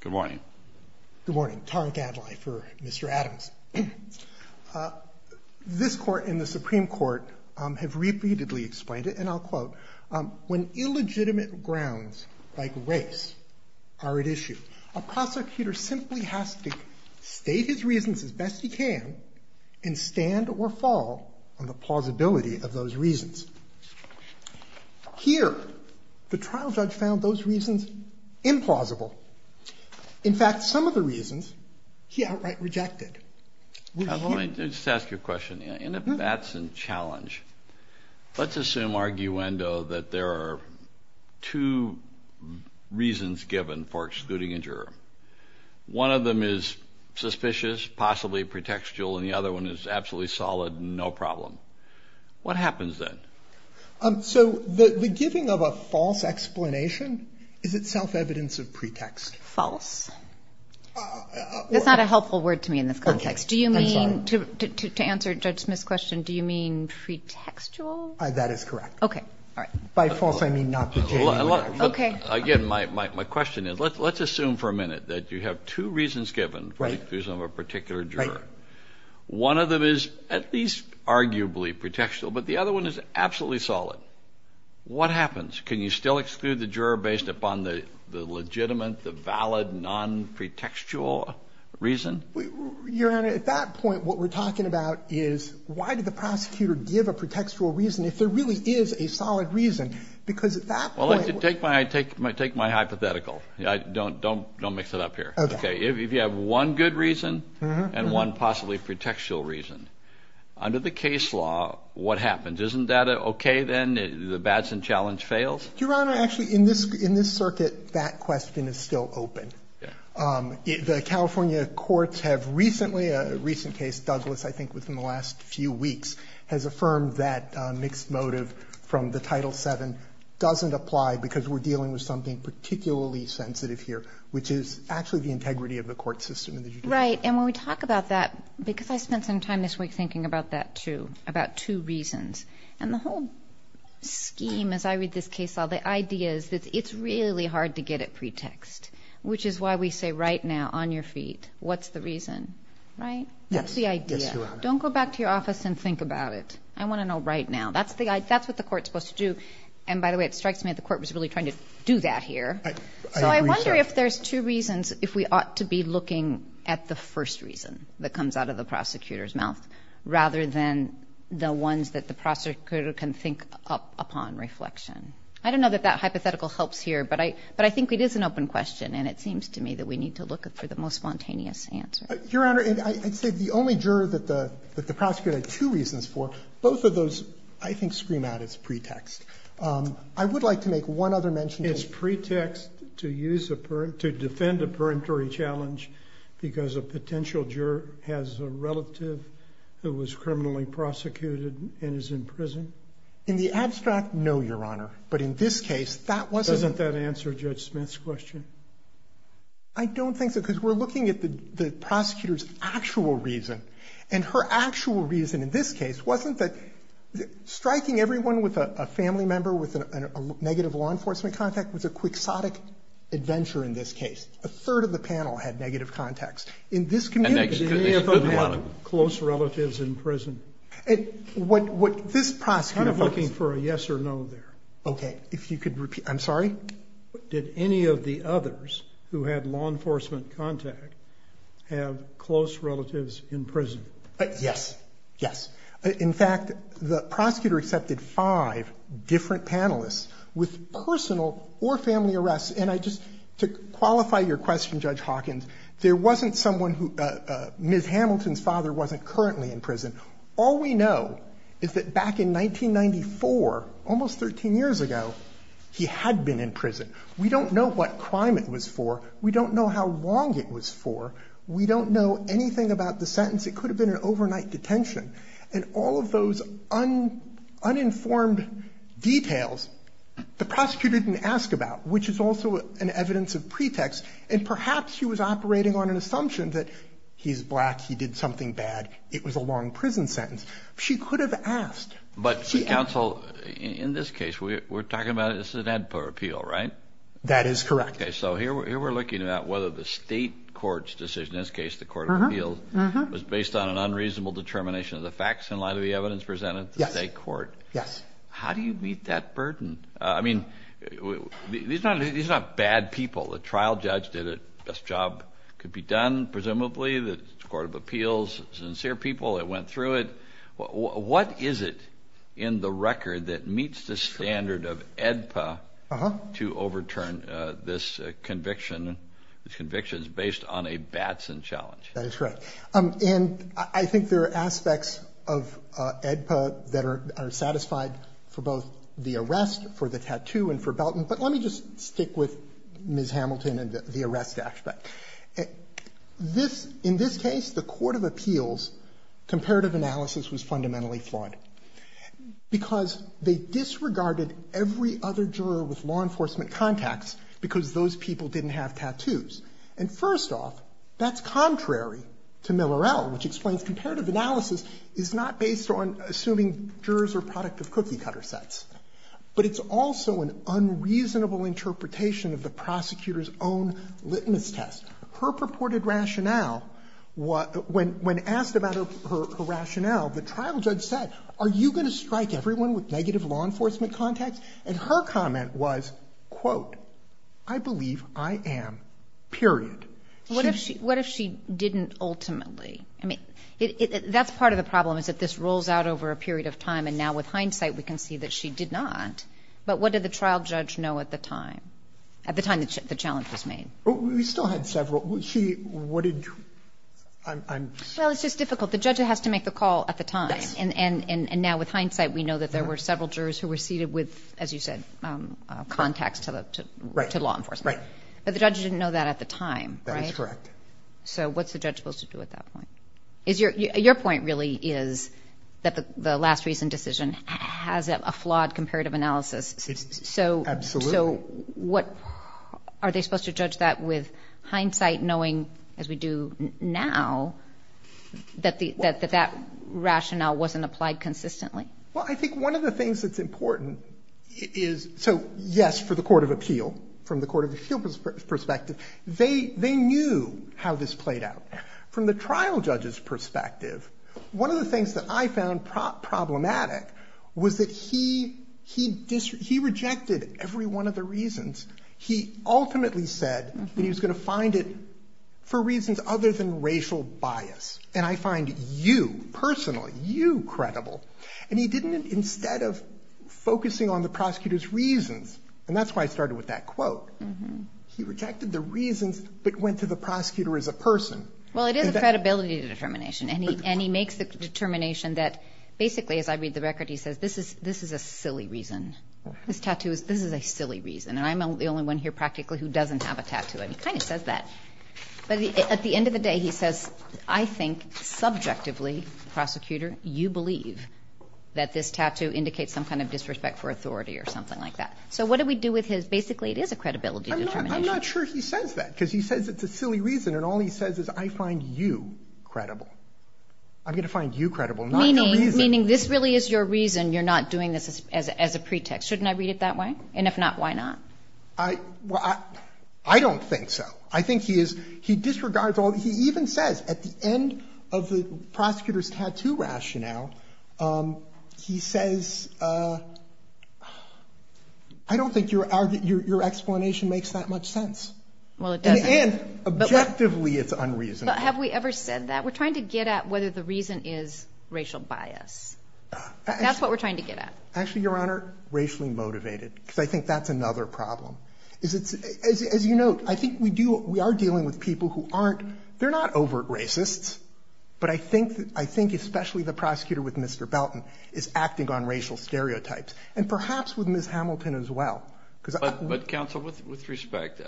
Good morning. Good morning, Tariq Adlai for Mr. Adams. This court and the Supreme Court have repeatedly explained it, and I'll quote, when illegitimate grounds like race are at issue, a prosecutor simply has to state his reasons as best he can and stand or fall on the plausibility of those reasons. Here, the reason is implausible. In fact, some of the reasons he outright rejected. Let me just ask you a question, and if that's a challenge, let's assume, arguendo, that there are two reasons given for excluding a juror. One of them is suspicious, possibly pretextual, and the other one is absolutely solid and no problem. What happens then? So the giving of a false explanation is itself evidence of pretext. False. That's not a helpful word to me in this context. Do you mean, to answer Judge Smith's question, do you mean pretextual? That is correct. Okay, all right. By false, I mean not pretextual. Okay. Again, my question is, let's assume for a minute that you have two reasons given for the exclusion of a particular juror. One of them is at least arguably pretextual, but the other one is absolutely solid. What happens? Can you still exclude the juror based upon the legitimate, the valid, non-pretextual reason? Your Honor, at that point, what we're talking about is, why did the prosecutor give a pretextual reason if there really is a solid reason? Because at that point... Take my hypothetical. Don't mix it up here. Okay. If you have one good reason and one possibly pretextual reason, under the case law, what happens? Isn't that okay, then? The Batson challenge fails? Your Honor, actually, in this circuit, that question is still open. The California courts have recently, a recent case, Douglas, I think within the last few weeks, has affirmed that mixed motive from the Title VII doesn't apply because we're dealing with something particularly sensitive here, which is actually the integrity of the court system in the judiciary. Right. And when we talk about that, because I spent some time this week thinking about that, too, about two reasons. And the whole scheme, as I read this case law, the idea is that it's really hard to get a pretext, which is why we say, right now, on your feet, what's the reason? Right? Yes, Your Honor. That's the idea. Don't go back to your office and think about it. I want to know right now. That's what the court's supposed to do. And by the way, it strikes me that the court was really trying to do that here. I agree, Your Honor. So I wonder if there's two reasons, if we ought to be looking at the first reason that comes out of the prosecutor's mouth, rather than the ones that the prosecutor can think up upon reflection. I don't know that that hypothetical helps here, but I think it is an open question, and it seems to me that we need to look for the most spontaneous answer. Your Honor, I'd say the only juror that the prosecutor had two reasons for, both of those, I think, scream out it's pretext. I would like to make one other mention to the Court. In the abstract, no, Your Honor. But in this case, that wasn't the reason. Doesn't that answer Judge Smith's question? I don't think so, because we're looking at the prosecutor's actual reason. And her actual reason in this case wasn't that striking everyone with a family member with a negative law enforcement contact was a quixotic adventure in this case. A third of the panel had negative contacts. In this community, did any of them have close relatives in prison? What this prosecutor – I'm kind of looking for a yes or no there. Okay. If you could repeat – I'm sorry? Did any of the others who had law enforcement contact have close relatives in prison? Yes. Yes. In fact, the prosecutor accepted five different panelists with personal or family arrests. And I just – to qualify your question, Judge Hawkins, there wasn't someone who – Ms. Hamilton's father wasn't currently in prison. All we know is that back in 1994, almost 13 years ago, he had been in prison. We don't know what crime it was for. We don't know how long it was for. We don't know anything about the sentence. It could have been an overnight detention. And all of those uninformed details, the prosecutor didn't ask about, which is also an evidence of pretext. And perhaps he was operating on an assumption that he's black, he did something bad, it was a long prison sentence. She could have asked. But, counsel, in this case, we're talking about – this is an ad par appeal, right? That is correct. Okay. So here we're looking at whether the state court's decision – in this case, the court of appeals – was based on an unreasonable determination of the evidence presented at the state court. Yes. How do you meet that burden? I mean, these are not bad people. The trial judge did the best job could be done, presumably. The court of appeals, sincere people that went through it. What is it in the record that meets the standard of AEDPA to overturn this conviction, these convictions, based on a Batson challenge? That is correct. And I think there are aspects of AEDPA that are satisfied for both the arrest, for the tattoo, and for Belton. But let me just stick with Ms. Hamilton and the arrest aspect. This – in this case, the court of appeals' comparative analysis was fundamentally flawed, because they disregarded every other juror with law enforcement contacts because those people didn't have tattoos. And first off, that's contrary to the Millerell, which explains comparative analysis is not based on assuming jurors are product of cookie-cutter sets. But it's also an unreasonable interpretation of the prosecutor's own litmus test. Her purported rationale, when asked about her rationale, the trial judge said, are you going to strike everyone with negative law enforcement contacts? And her comment was, quote, I believe I am, period. What if she didn't ultimately? I mean, that's part of the problem, is that this rolls out over a period of time, and now with hindsight, we can see that she did not. But what did the trial judge know at the time, at the time that the challenge was made? We still had several. She – what did – I'm sorry. Well, it's just difficult. The judge has to make the call at the time. Yes. And now with hindsight, we know that there were several jurors who were seated with, as you said, contacts to the – to law enforcement. Right. But the judge didn't know that at the time, right? That is correct. So what's the judge supposed to do at that point? Is your – your point really is that the last recent decision has a flawed comparative analysis. It's – absolutely. So what – are they supposed to judge that with hindsight, knowing, as we do now, that the – that that rationale wasn't applied consistently? Well, I think one of the things that's important is – so, yes, for the court of perspective, they – they knew how this played out. From the trial judge's perspective, one of the things that I found problematic was that he – he – he rejected every one of the reasons. He ultimately said that he was going to find it for reasons other than racial bias. And I find you, personally, you credible. And he didn't – instead of focusing on the prosecutor's reasons – and that's why I started with that quote – he rejected the reasons but went to the prosecutor as a person. Well, it is a credibility determination. And he – and he makes the determination that, basically, as I read the record, he says, this is – this is a silly reason. This tattoo is – this is a silly reason. And I'm the only one here, practically, who doesn't have a tattoo. And he kind of says that. But at the end of the day, he says, I think, subjectively, prosecutor, you believe that this tattoo indicates some kind of disrespect for authority or something like that. So what do we do with his – basically, it is a credibility determination. I'm not – I'm not sure he says that, because he says it's a silly reason. And all he says is, I find you credible. I'm going to find you credible, not your reason. Meaning this really is your reason you're not doing this as a pretext. Shouldn't I read it that way? And if not, why not? I – well, I don't think so. I think he is – he disregards all – he even says, at the end of the prosecutor's – I don't think your explanation makes that much sense. And objectively, it's unreasonable. But have we ever said that? We're trying to get at whether the reason is racial bias. That's what we're trying to get at. Actually, Your Honor, racially motivated, because I think that's another problem. Is it's – as you note, I think we do – we are dealing with people who aren't – they're not overt racists. But I think especially the prosecutor with Mr. Belton is acting on racial stereotypes. And perhaps with Ms. Hamilton as well. Because I – But counsel, with respect,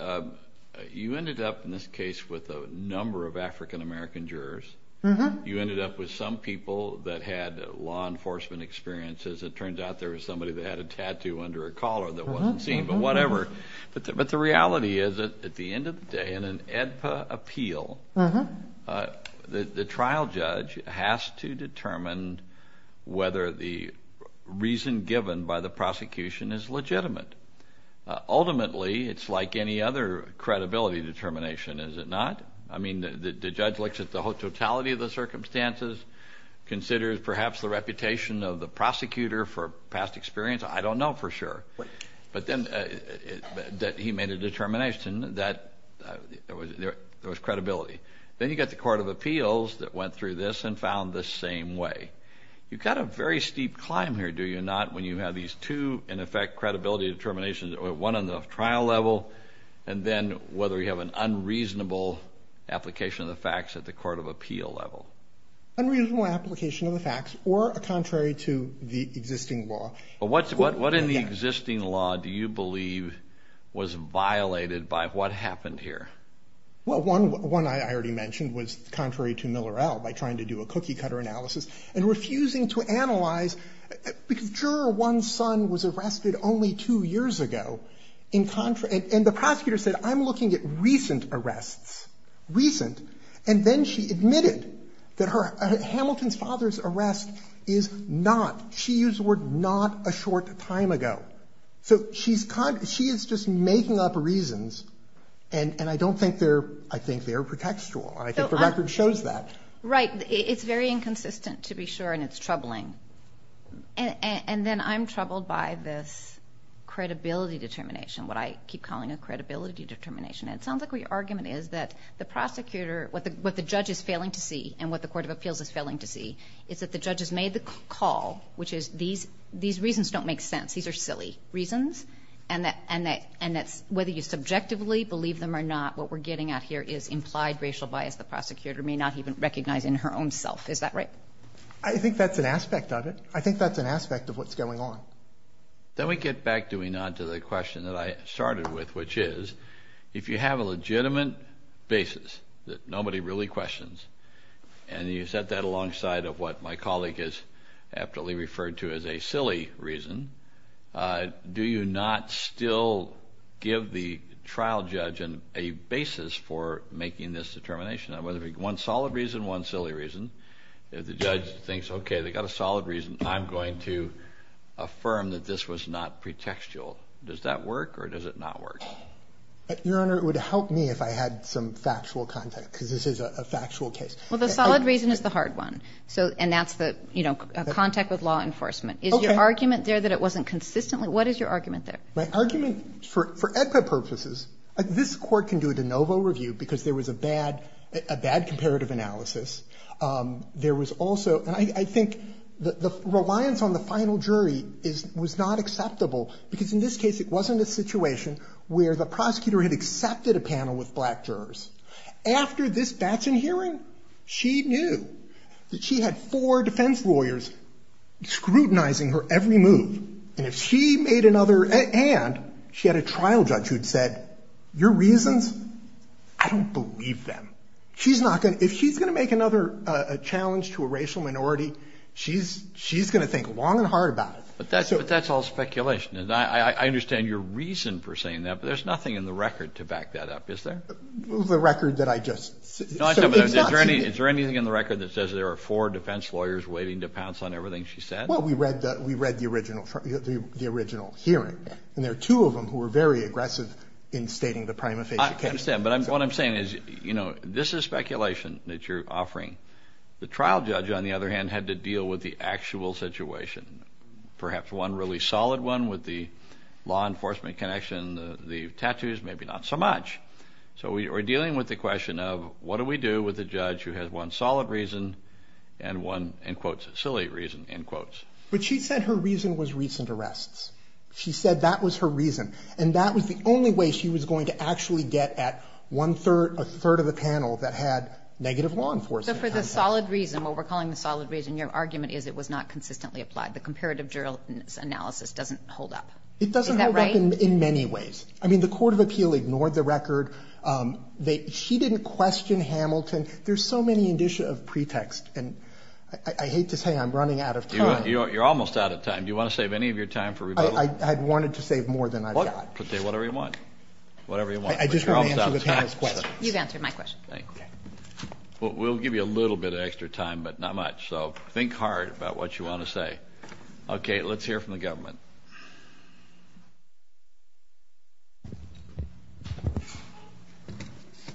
you ended up in this case with a number of African-American jurors. You ended up with some people that had law enforcement experiences. It turns out there was somebody that had a tattoo under a collar that wasn't seen. But whatever. But the reality is, at the end of the day, in an AEDPA appeal, the trial judge has to determine whether the reason given by the prosecution is legitimate. Ultimately, it's like any other credibility determination, is it not? I mean, the judge looks at the totality of the circumstances, considers perhaps the reputation of the prosecutor for past experience. I don't know for sure. But then – that he made a determination that there was credibility. Then you got the court of appeals that went through this and found the same way. You've got a very steep climb here, do you not, when you have these two, in effect, credibility determinations – one on the trial level, and then whether you have an unreasonable application of the facts at the court of appeal level. Unreasonable application of the facts, or contrary to the existing law. But what in the existing law do you believe was violated by what happened here? Well, one I already mentioned was contrary to Millerell, by trying to do a cookie-cutter analysis and refusing to analyze. Because juror one's son was arrested only two years ago. And the prosecutor said, I'm looking at recent arrests. Recent. And then she admitted that Hamilton's father's arrest is not – she used the word not a short time ago. So she's – she is just making up reasons. And I don't think they're – I think they're pretextual. And I think the record shows that. Right. It's very inconsistent, to be sure, and it's troubling. And then I'm troubled by this credibility determination, what I keep calling a credibility determination. And it sounds like your argument is that the prosecutor – what the judge is failing to see and what the court of appeals is failing to see is that the judge has made the call, which is these reasons don't make sense. These are silly reasons. And that's – whether you subjectively believe them or not, what we're getting at here is implied racial bias. The prosecutor may not even recognize in her own self. Is that right? I think that's an aspect of it. I think that's an aspect of what's going on. Then we get back, do we not, to the question that I started with, which is if you have a legitimate basis that nobody really questions, and you set that alongside of what my colleague has aptly referred to as a silly reason, do you not still give the trial judge a basis for making this determination? Whether one solid reason, one silly reason. If the judge thinks, okay, they've got a solid reason, I'm going to affirm that this was not pretextual. Does that work or does it not work? Your Honor, it would help me if I had some factual context, because this is a factual case. Well, the solid reason is the hard one. So – and that's the, you know, contact with law enforcement. Is your argument there that it wasn't consistently – what is your argument there? My argument, for EDPA purposes, this Court can do a de novo review because there was a bad – a bad comparative analysis. There was also – and I think the reliance on the final jury is – was not acceptable, because in this case it wasn't a situation where the prosecutor had accepted a panel with black jurors. After this Batchen hearing, she knew that she had four defense lawyers scrutinizing her every move. And if she made another – and she had a trial judge who'd said, your reasons, I don't believe them. She's not going to – if she's going to make another challenge to a racial minority, she's going to think long and hard about it. But that's all speculation. And I understand your reason for saying that, but there's nothing in the record to back that up, is there? The record that I just – so it's not to me. Is there anything in the record that says there are four defense lawyers waiting to pounce on everything she said? Well, we read the – we read the original – the original hearing, and there are two of them who were very aggressive in stating the prima facie case. I understand, but I'm – what I'm saying is, you know, this is speculation that you're offering. The trial judge, on the other hand, had to deal with the actual situation, perhaps one really solid one with the law enforcement connection, the tattoos, maybe not so much. So we are dealing with the question of, what do we do with a judge who has one solid reason and one, in quotes, a silly reason, in quotes. But she said her reason was recent arrests. She said that was her reason, and that was the only way she was going to actually get at one-third – a third of the panel that had negative law enforcement contacts. So for the solid reason, what we're calling the solid reason, your argument is it was not consistently applied. The comparative jurisdiction analysis doesn't hold up. It doesn't hold up in many ways. I mean, the court of appeal ignored the record. She didn't question Hamilton. There's so many indicia of pretext. And I hate to say I'm running out of time. You're almost out of time. Do you want to save any of your time for rebuttal? I'd wanted to save more than I've got. Say whatever you want. Whatever you want. I just want to answer the panel's questions. You've answered my question. Thank you. We'll give you a little bit of extra time, but not much. So think hard about what you want to say. Okay, let's hear from the government.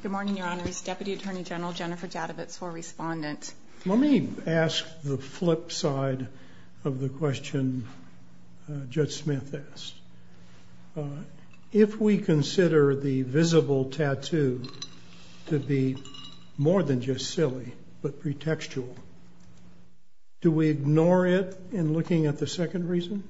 Good morning, Your Honors. Deputy Attorney General Jennifer Jadavitz, co-respondent. Let me ask the flip side of the question Judge Smith asked. If we consider the visible tattoo to be more than just silly, but pretextual, do we ignore it in looking at the second reason?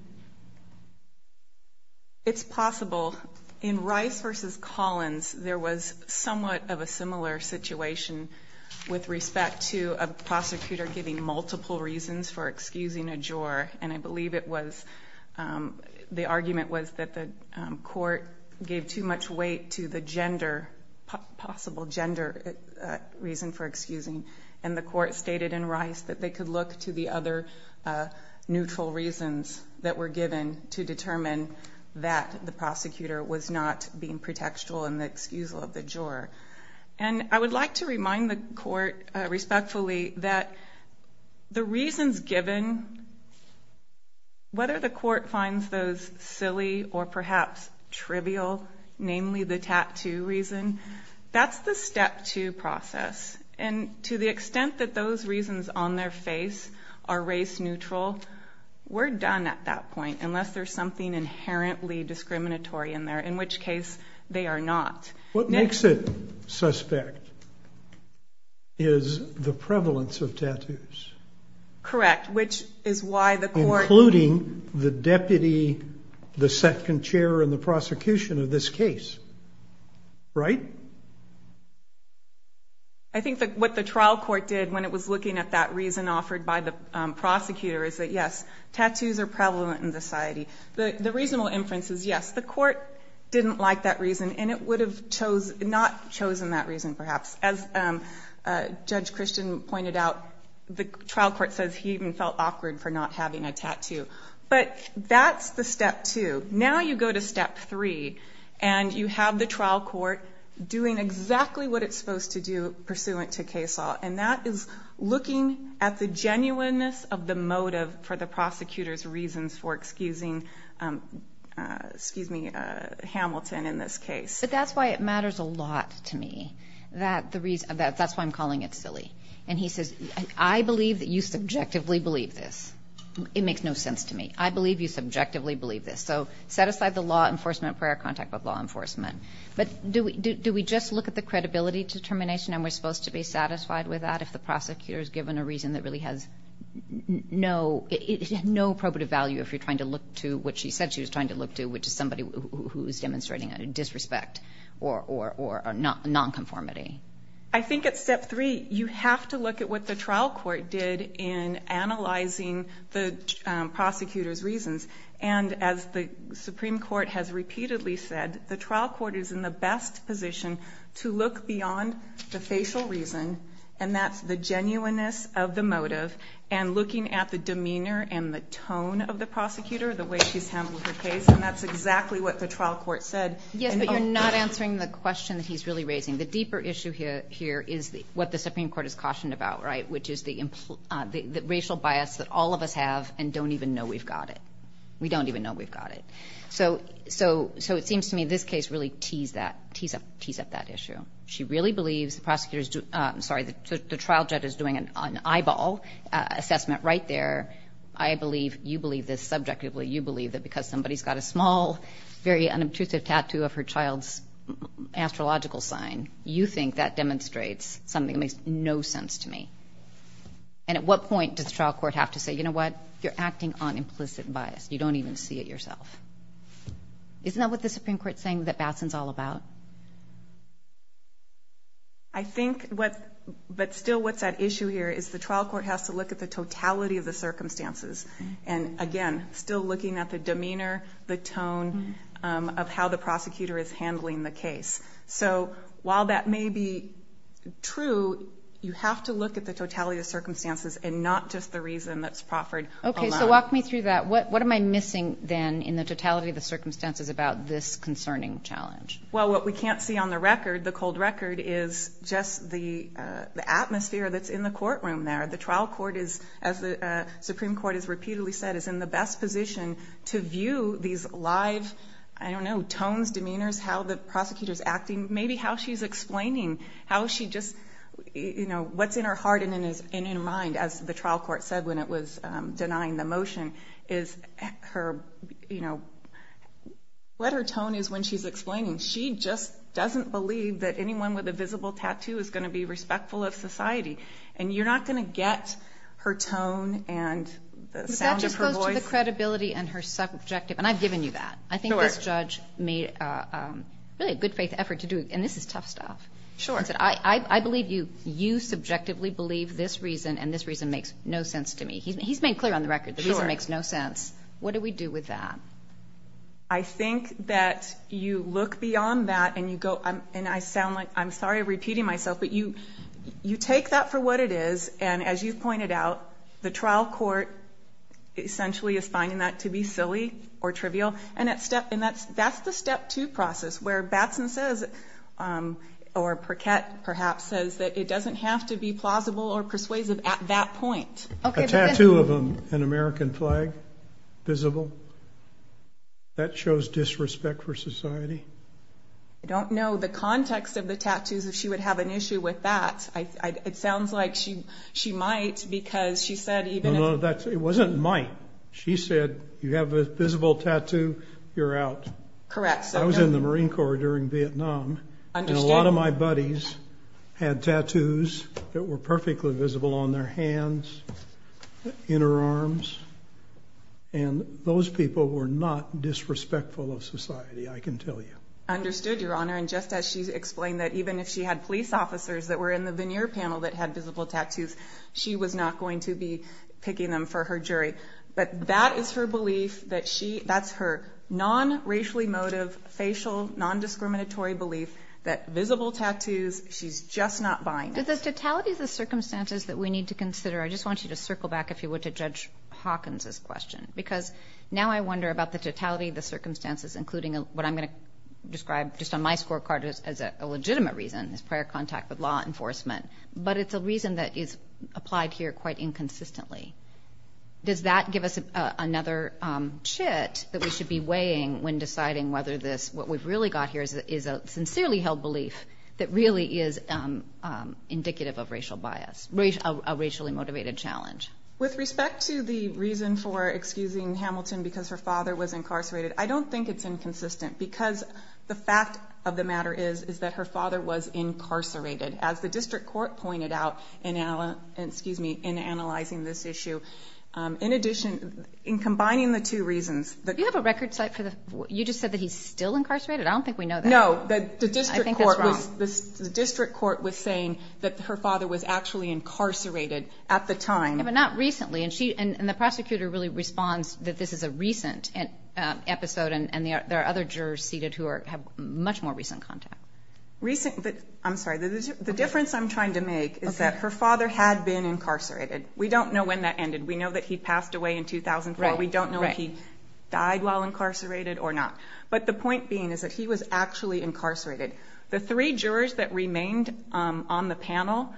It's possible. In Rice v. Collins, there was somewhat of a similar situation with respect to a prosecutor giving multiple reasons for excusing a juror. And I believe it was, the argument was that the court gave too much weight to the gender, possible gender reason for excusing. And the court stated in Rice that they could look to the other neutral reasons that were given to determine that the prosecutor was not being pretextual in the excusal of the juror. And I would like to remind the court respectfully that the reasons given, whether the court finds those silly or perhaps trivial, namely the tattoo reason, that's the step two process. And to the extent that those reasons on their face are race neutral, we're done at that point, unless there's something inherently discriminatory in there, in which case they are not. What makes it suspect is the prevalence of tattoos. Correct. Which is why the court... Including the deputy, the second chair, and the prosecution of this case, right? I think that what the trial court did when it was looking at that reason offered by the prosecutor is that, yes, tattoos are prevalent in society. But the reasonable inference is, yes, the court didn't like that reason, and it would have not chosen that reason, perhaps. As Judge Christian pointed out, the trial court says he even felt awkward for not having a tattoo. But that's the step two. Now you go to step three, and you have the trial court doing exactly what it's supposed to do pursuant to case law. And that is looking at the genuineness of the motive for the prosecutor's reasons for excusing Hamilton in this case. But that's why it matters a lot to me. That's why I'm calling it silly. And he says, I believe that you subjectively believe this. It makes no sense to me. I believe you subjectively believe this. So set aside the law enforcement prior contact with law enforcement. But do we just look at the credibility determination, and we're supposed to be satisfied with that if the prosecutor is given a reason that really has no appropriate value if you're trying to look to what she said she was trying to look to, which is somebody who is demonstrating a disrespect or a nonconformity? I think at step three, you have to look at what the trial court did in analyzing the prosecutor's reasons. And as the Supreme Court has repeatedly said, the trial court is in the best position to look beyond the facial reason. And that's the genuineness of the motive and looking at the demeanor and the tone of the prosecutor, the way she's handled her case. And that's exactly what the trial court said. Yes, but you're not answering the question that he's really raising. The deeper issue here is what the Supreme Court is cautioned about, right? Which is the racial bias that all of us have and don't even know we've got it. We don't even know we've got it. So it seems to me this case really tees up that issue. She really believes the prosecutor is doing, sorry, the trial judge is doing an eyeball assessment right there. I believe, you believe this subjectively, you believe that because somebody's got a small, very unobtrusive tattoo of her child's astrological sign, you think that demonstrates something that makes no sense to me. And at what point does the trial court have to say, you know what? You're acting on implicit bias. You don't even see it yourself. Isn't that what the Supreme Court's saying that Batson's all about? I think what, but still what's at issue here is the trial court has to look at the totality of the circumstances. And again, still looking at the demeanor, the tone of how the prosecutor is handling the case. So while that may be true, you have to look at the totality of circumstances and not just the reason that's proffered. Okay. So walk me through that. What am I missing then in the totality of the circumstances about this concerning challenge? Well, what we can't see on the record, the cold record, is just the atmosphere that's in the courtroom there. The trial court is, as the Supreme Court has repeatedly said, is in the best position to view these live, I don't know, tones, demeanors, how the prosecutor's acting, maybe how she's explaining, how she just, you know, what's in her heart and in her mind, as the her, you know, what her tone is when she's explaining. She just doesn't believe that anyone with a visible tattoo is going to be respectful of society. And you're not going to get her tone and the sound of her voice. But that just goes to the credibility and her subjective. And I've given you that. Sure. I think this judge made really a good faith effort to do, and this is tough stuff. Sure. I believe you subjectively believe this reason and this reason makes no sense to me. He's made clear on the record the reason makes no sense. What do we do with that? I think that you look beyond that and you go, and I sound like, I'm sorry, repeating myself, but you, you take that for what it is. And as you've pointed out, the trial court essentially is finding that to be silly or And that step, and that's, that's the step two process where Batson says, or Perkett perhaps says that it doesn't have to be plausible or persuasive at that point. A tattoo of an American flag, visible, that shows disrespect for society. I don't know the context of the tattoos, if she would have an issue with that. It sounds like she, she might, because she said even No, no, that's, it wasn't might. She said, you have a visible tattoo, you're out. Correct. So I was in the Marine Corps during Vietnam, and a lot of my buddies had tattoos that were in her arms. And those people were not disrespectful of society. I can tell you. Understood, Your Honor. And just as she's explained that even if she had police officers that were in the veneer panel that had visible tattoos, she was not going to be picking them for her jury. But that is her belief that she, that's her non-racially motive, facial, non-discriminatory belief that visible tattoos, she's just not buying it. The totality of the circumstances that we need to consider, I just want you to circle back, if you would, to Judge Hawkins's question, because now I wonder about the totality of the circumstances, including what I'm going to describe just on my scorecard as a legitimate reason, is prior contact with law enforcement. But it's a reason that is applied here quite inconsistently. Does that give us another chit that we should be weighing when deciding whether this, what we've really got here is a sincerely held belief that really is indicative of racial bias, a racially motivated challenge? With respect to the reason for excusing Hamilton because her father was incarcerated, I don't think it's inconsistent, because the fact of the matter is, is that her father was incarcerated, as the district court pointed out in, excuse me, in analyzing this issue. In addition, in combining the two reasons that- You just said that he's still incarcerated? I don't think we know that. No, the district court was saying that her father was actually incarcerated at the time. Yeah, but not recently, and the prosecutor really responds that this is a recent episode, and there are other jurors seated who have much more recent contact. I'm sorry, the difference I'm trying to make is that her father had been incarcerated. We don't know when that ended. We know that he passed away in 2004. We don't know if he died while incarcerated or not, but the point being is that he was actually incarcerated. The three jurors that remained on the panel,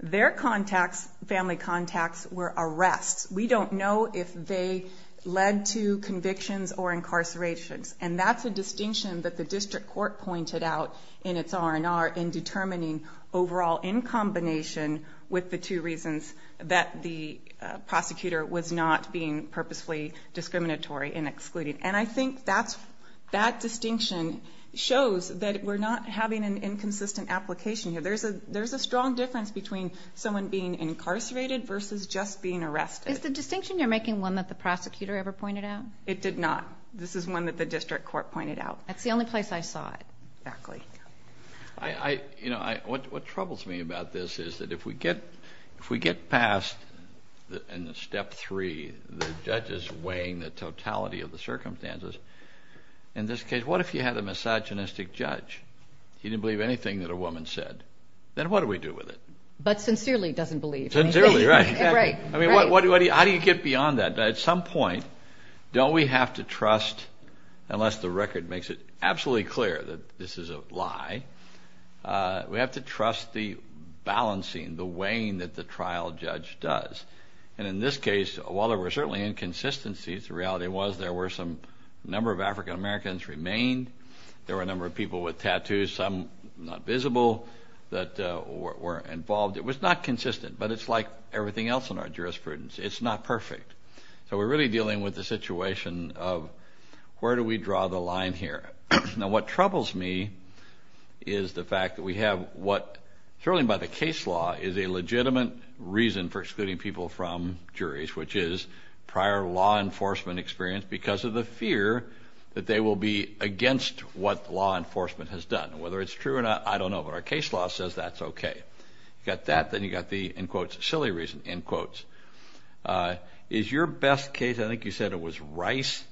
their contacts, family contacts, were arrests. We don't know if they led to convictions or incarcerations, and that's a distinction that the district court pointed out in its R&R in determining overall in combination with the two reasons that the prosecutor was not being purposefully discriminatory and excluded, and I think that distinction shows that we're not having an inconsistent application here. There's a strong difference between someone being incarcerated versus just being arrested. Is the distinction you're making one that the prosecutor ever pointed out? It did not. This is one that the district court pointed out. That's the only place I saw it. Exactly. I, you know, what troubles me about this is that if we get past in the step three, the judges weighing the totality of the circumstances, in this case, what if you had a misogynistic judge? He didn't believe anything that a woman said. Then what do we do with it? But sincerely doesn't believe. Sincerely, right. Right. I mean, how do you get beyond that? At some point, don't we have to trust, unless the record makes it absolutely clear that this is a lie, we have to trust the balancing, the weighing that the trial judge does. And in this case, while there were certainly inconsistencies, the reality was there were some number of African Americans remained. There were a number of people with tattoos, some not visible, that were involved. It was not consistent, but it's like everything else in our jurisprudence. It's not perfect. So we're really dealing with the situation of where do we draw the line here? Now, what troubles me is the fact that we have what, certainly by the case law, is a legitimate reason for excluding people from juries, which is prior law enforcement experience because of the fear that they will be against what law enforcement has done. Whether it's true or not, I don't know. But our case law says that's OK. You got that, then you got the, in quotes, silly reason, in quotes. Is your best case, I think you said it was Rice,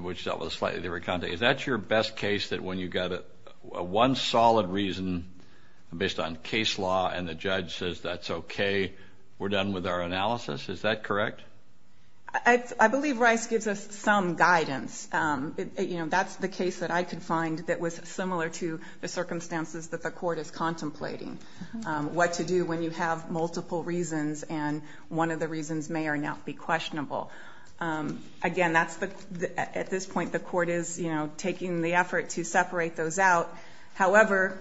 which dealt with a slightly different content, is that your best case that when you got one solid reason based on case law and the judge says that's OK, we're done with our analysis? Is that correct? I believe Rice gives us some guidance. That's the case that I could find that was similar to the circumstances that the court is contemplating, what to do when you have multiple reasons and one of the reasons may or may not be questionable. Again, at this point, the court is taking the effort to separate those out. However,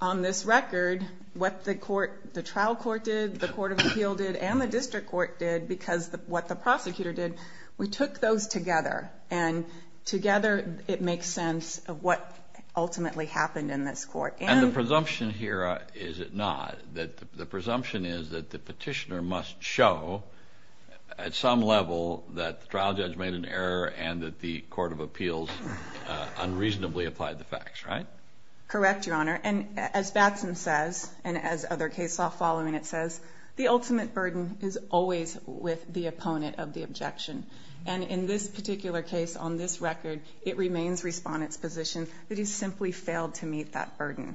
on this record, what the trial court did, the court of appeal did, and the district court did, because what the prosecutor did, we took those together. And together, it makes sense of what ultimately happened in this court. And the presumption here, is it not, that the presumption is that the petitioner must show at some level that the trial judge made an error and that the court of appeals unreasonably applied the facts, right? Correct, your honor. And as Batson says, and as other case law following it says, the ultimate burden is always with the opponent of the objection. And in this particular case, on this record, it remains respondent's position that he simply failed to meet that burden.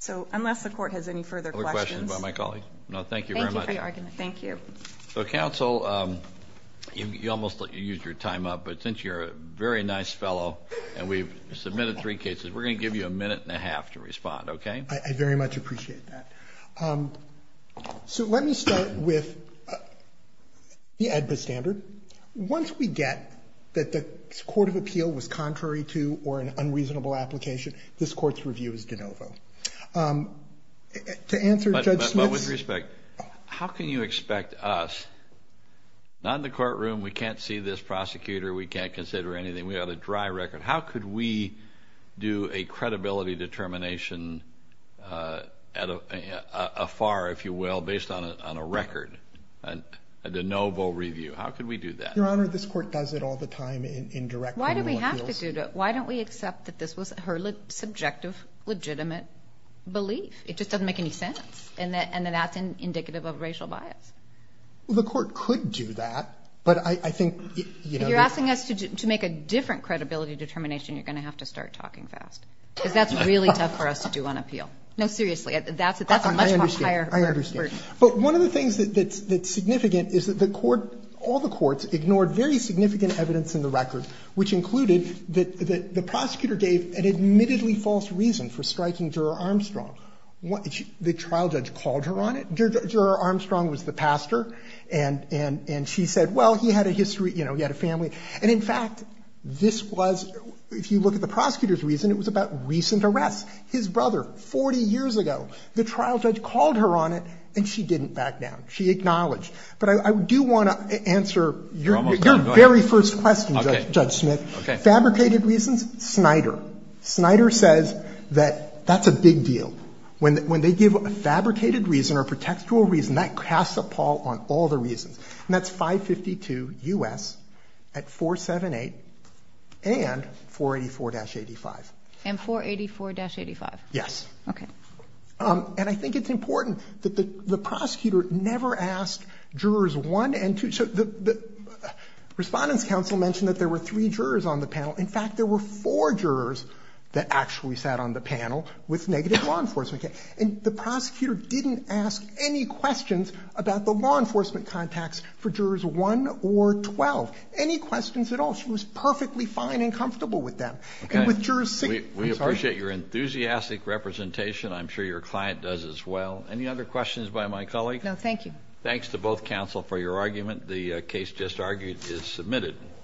So unless the court has any further questions. My colleague. No, thank you very much. Thank you. So counsel, you almost used your time up. But since you're a very nice fellow and we've submitted three cases, we're going to give you a minute and a half to respond, okay? I very much appreciate that. So let me start with the AEDPA standard. Once we get that the court of appeal was contrary to or an unreasonable application, this court's review is de novo. But with respect, how can you expect us not in the courtroom? We can't see this prosecutor. We can't consider anything. We have a dry record. How could we do a credibility determination afar, if you will, based on a record, a de novo review? How could we do that? Your honor, this court does it all the time in direct. Why do we have to do that? Why don't we accept that this was her subjective, legitimate belief? It just doesn't make any sense. And then that's indicative of racial bias. Well, the court could do that. But I think, you know... If you're asking us to make a different credibility determination, you're going to have to start talking fast. Because that's really tough for us to do on appeal. No, seriously, that's a much higher... I understand. But one of the things that's significant is that the court, all the courts ignored very significant evidence in the record, which included that the prosecutor gave an admittedly false reason for striking Juror Armstrong. The trial judge called her on it. Juror Armstrong was the pastor. And she said, well, he had a history, you know, he had a family. And in fact, this was, if you look at the prosecutor's reason, it was about recent arrests. His brother, 40 years ago. The trial judge called her on it, and she didn't back down. She acknowledged. But I do want to answer your very first question, Judge Smith. Okay. Fabricated reasons, Snyder. Snyder says that that's a big deal. When they give a fabricated reason or a pretextual reason, that casts a pall on all the reasons. And that's 552 U.S. at 478 and 484-85. And 484-85? Yes. Okay. And I think it's important that the prosecutor never asked jurors 1 and 2. So the Respondents' Council mentioned that there were three jurors on the panel. In fact, there were four jurors that actually sat on the panel with negative law enforcement. And the prosecutor didn't ask any questions about the law enforcement contacts for jurors 1 or 12. Any questions at all. She was perfectly fine and comfortable with them. And with jurors 6. We appreciate your enthusiastic representation. I'm sure your client does as well. Any other questions by my colleague? No, thank you. Thanks to both counsel for your argument. The case just argued is submitted.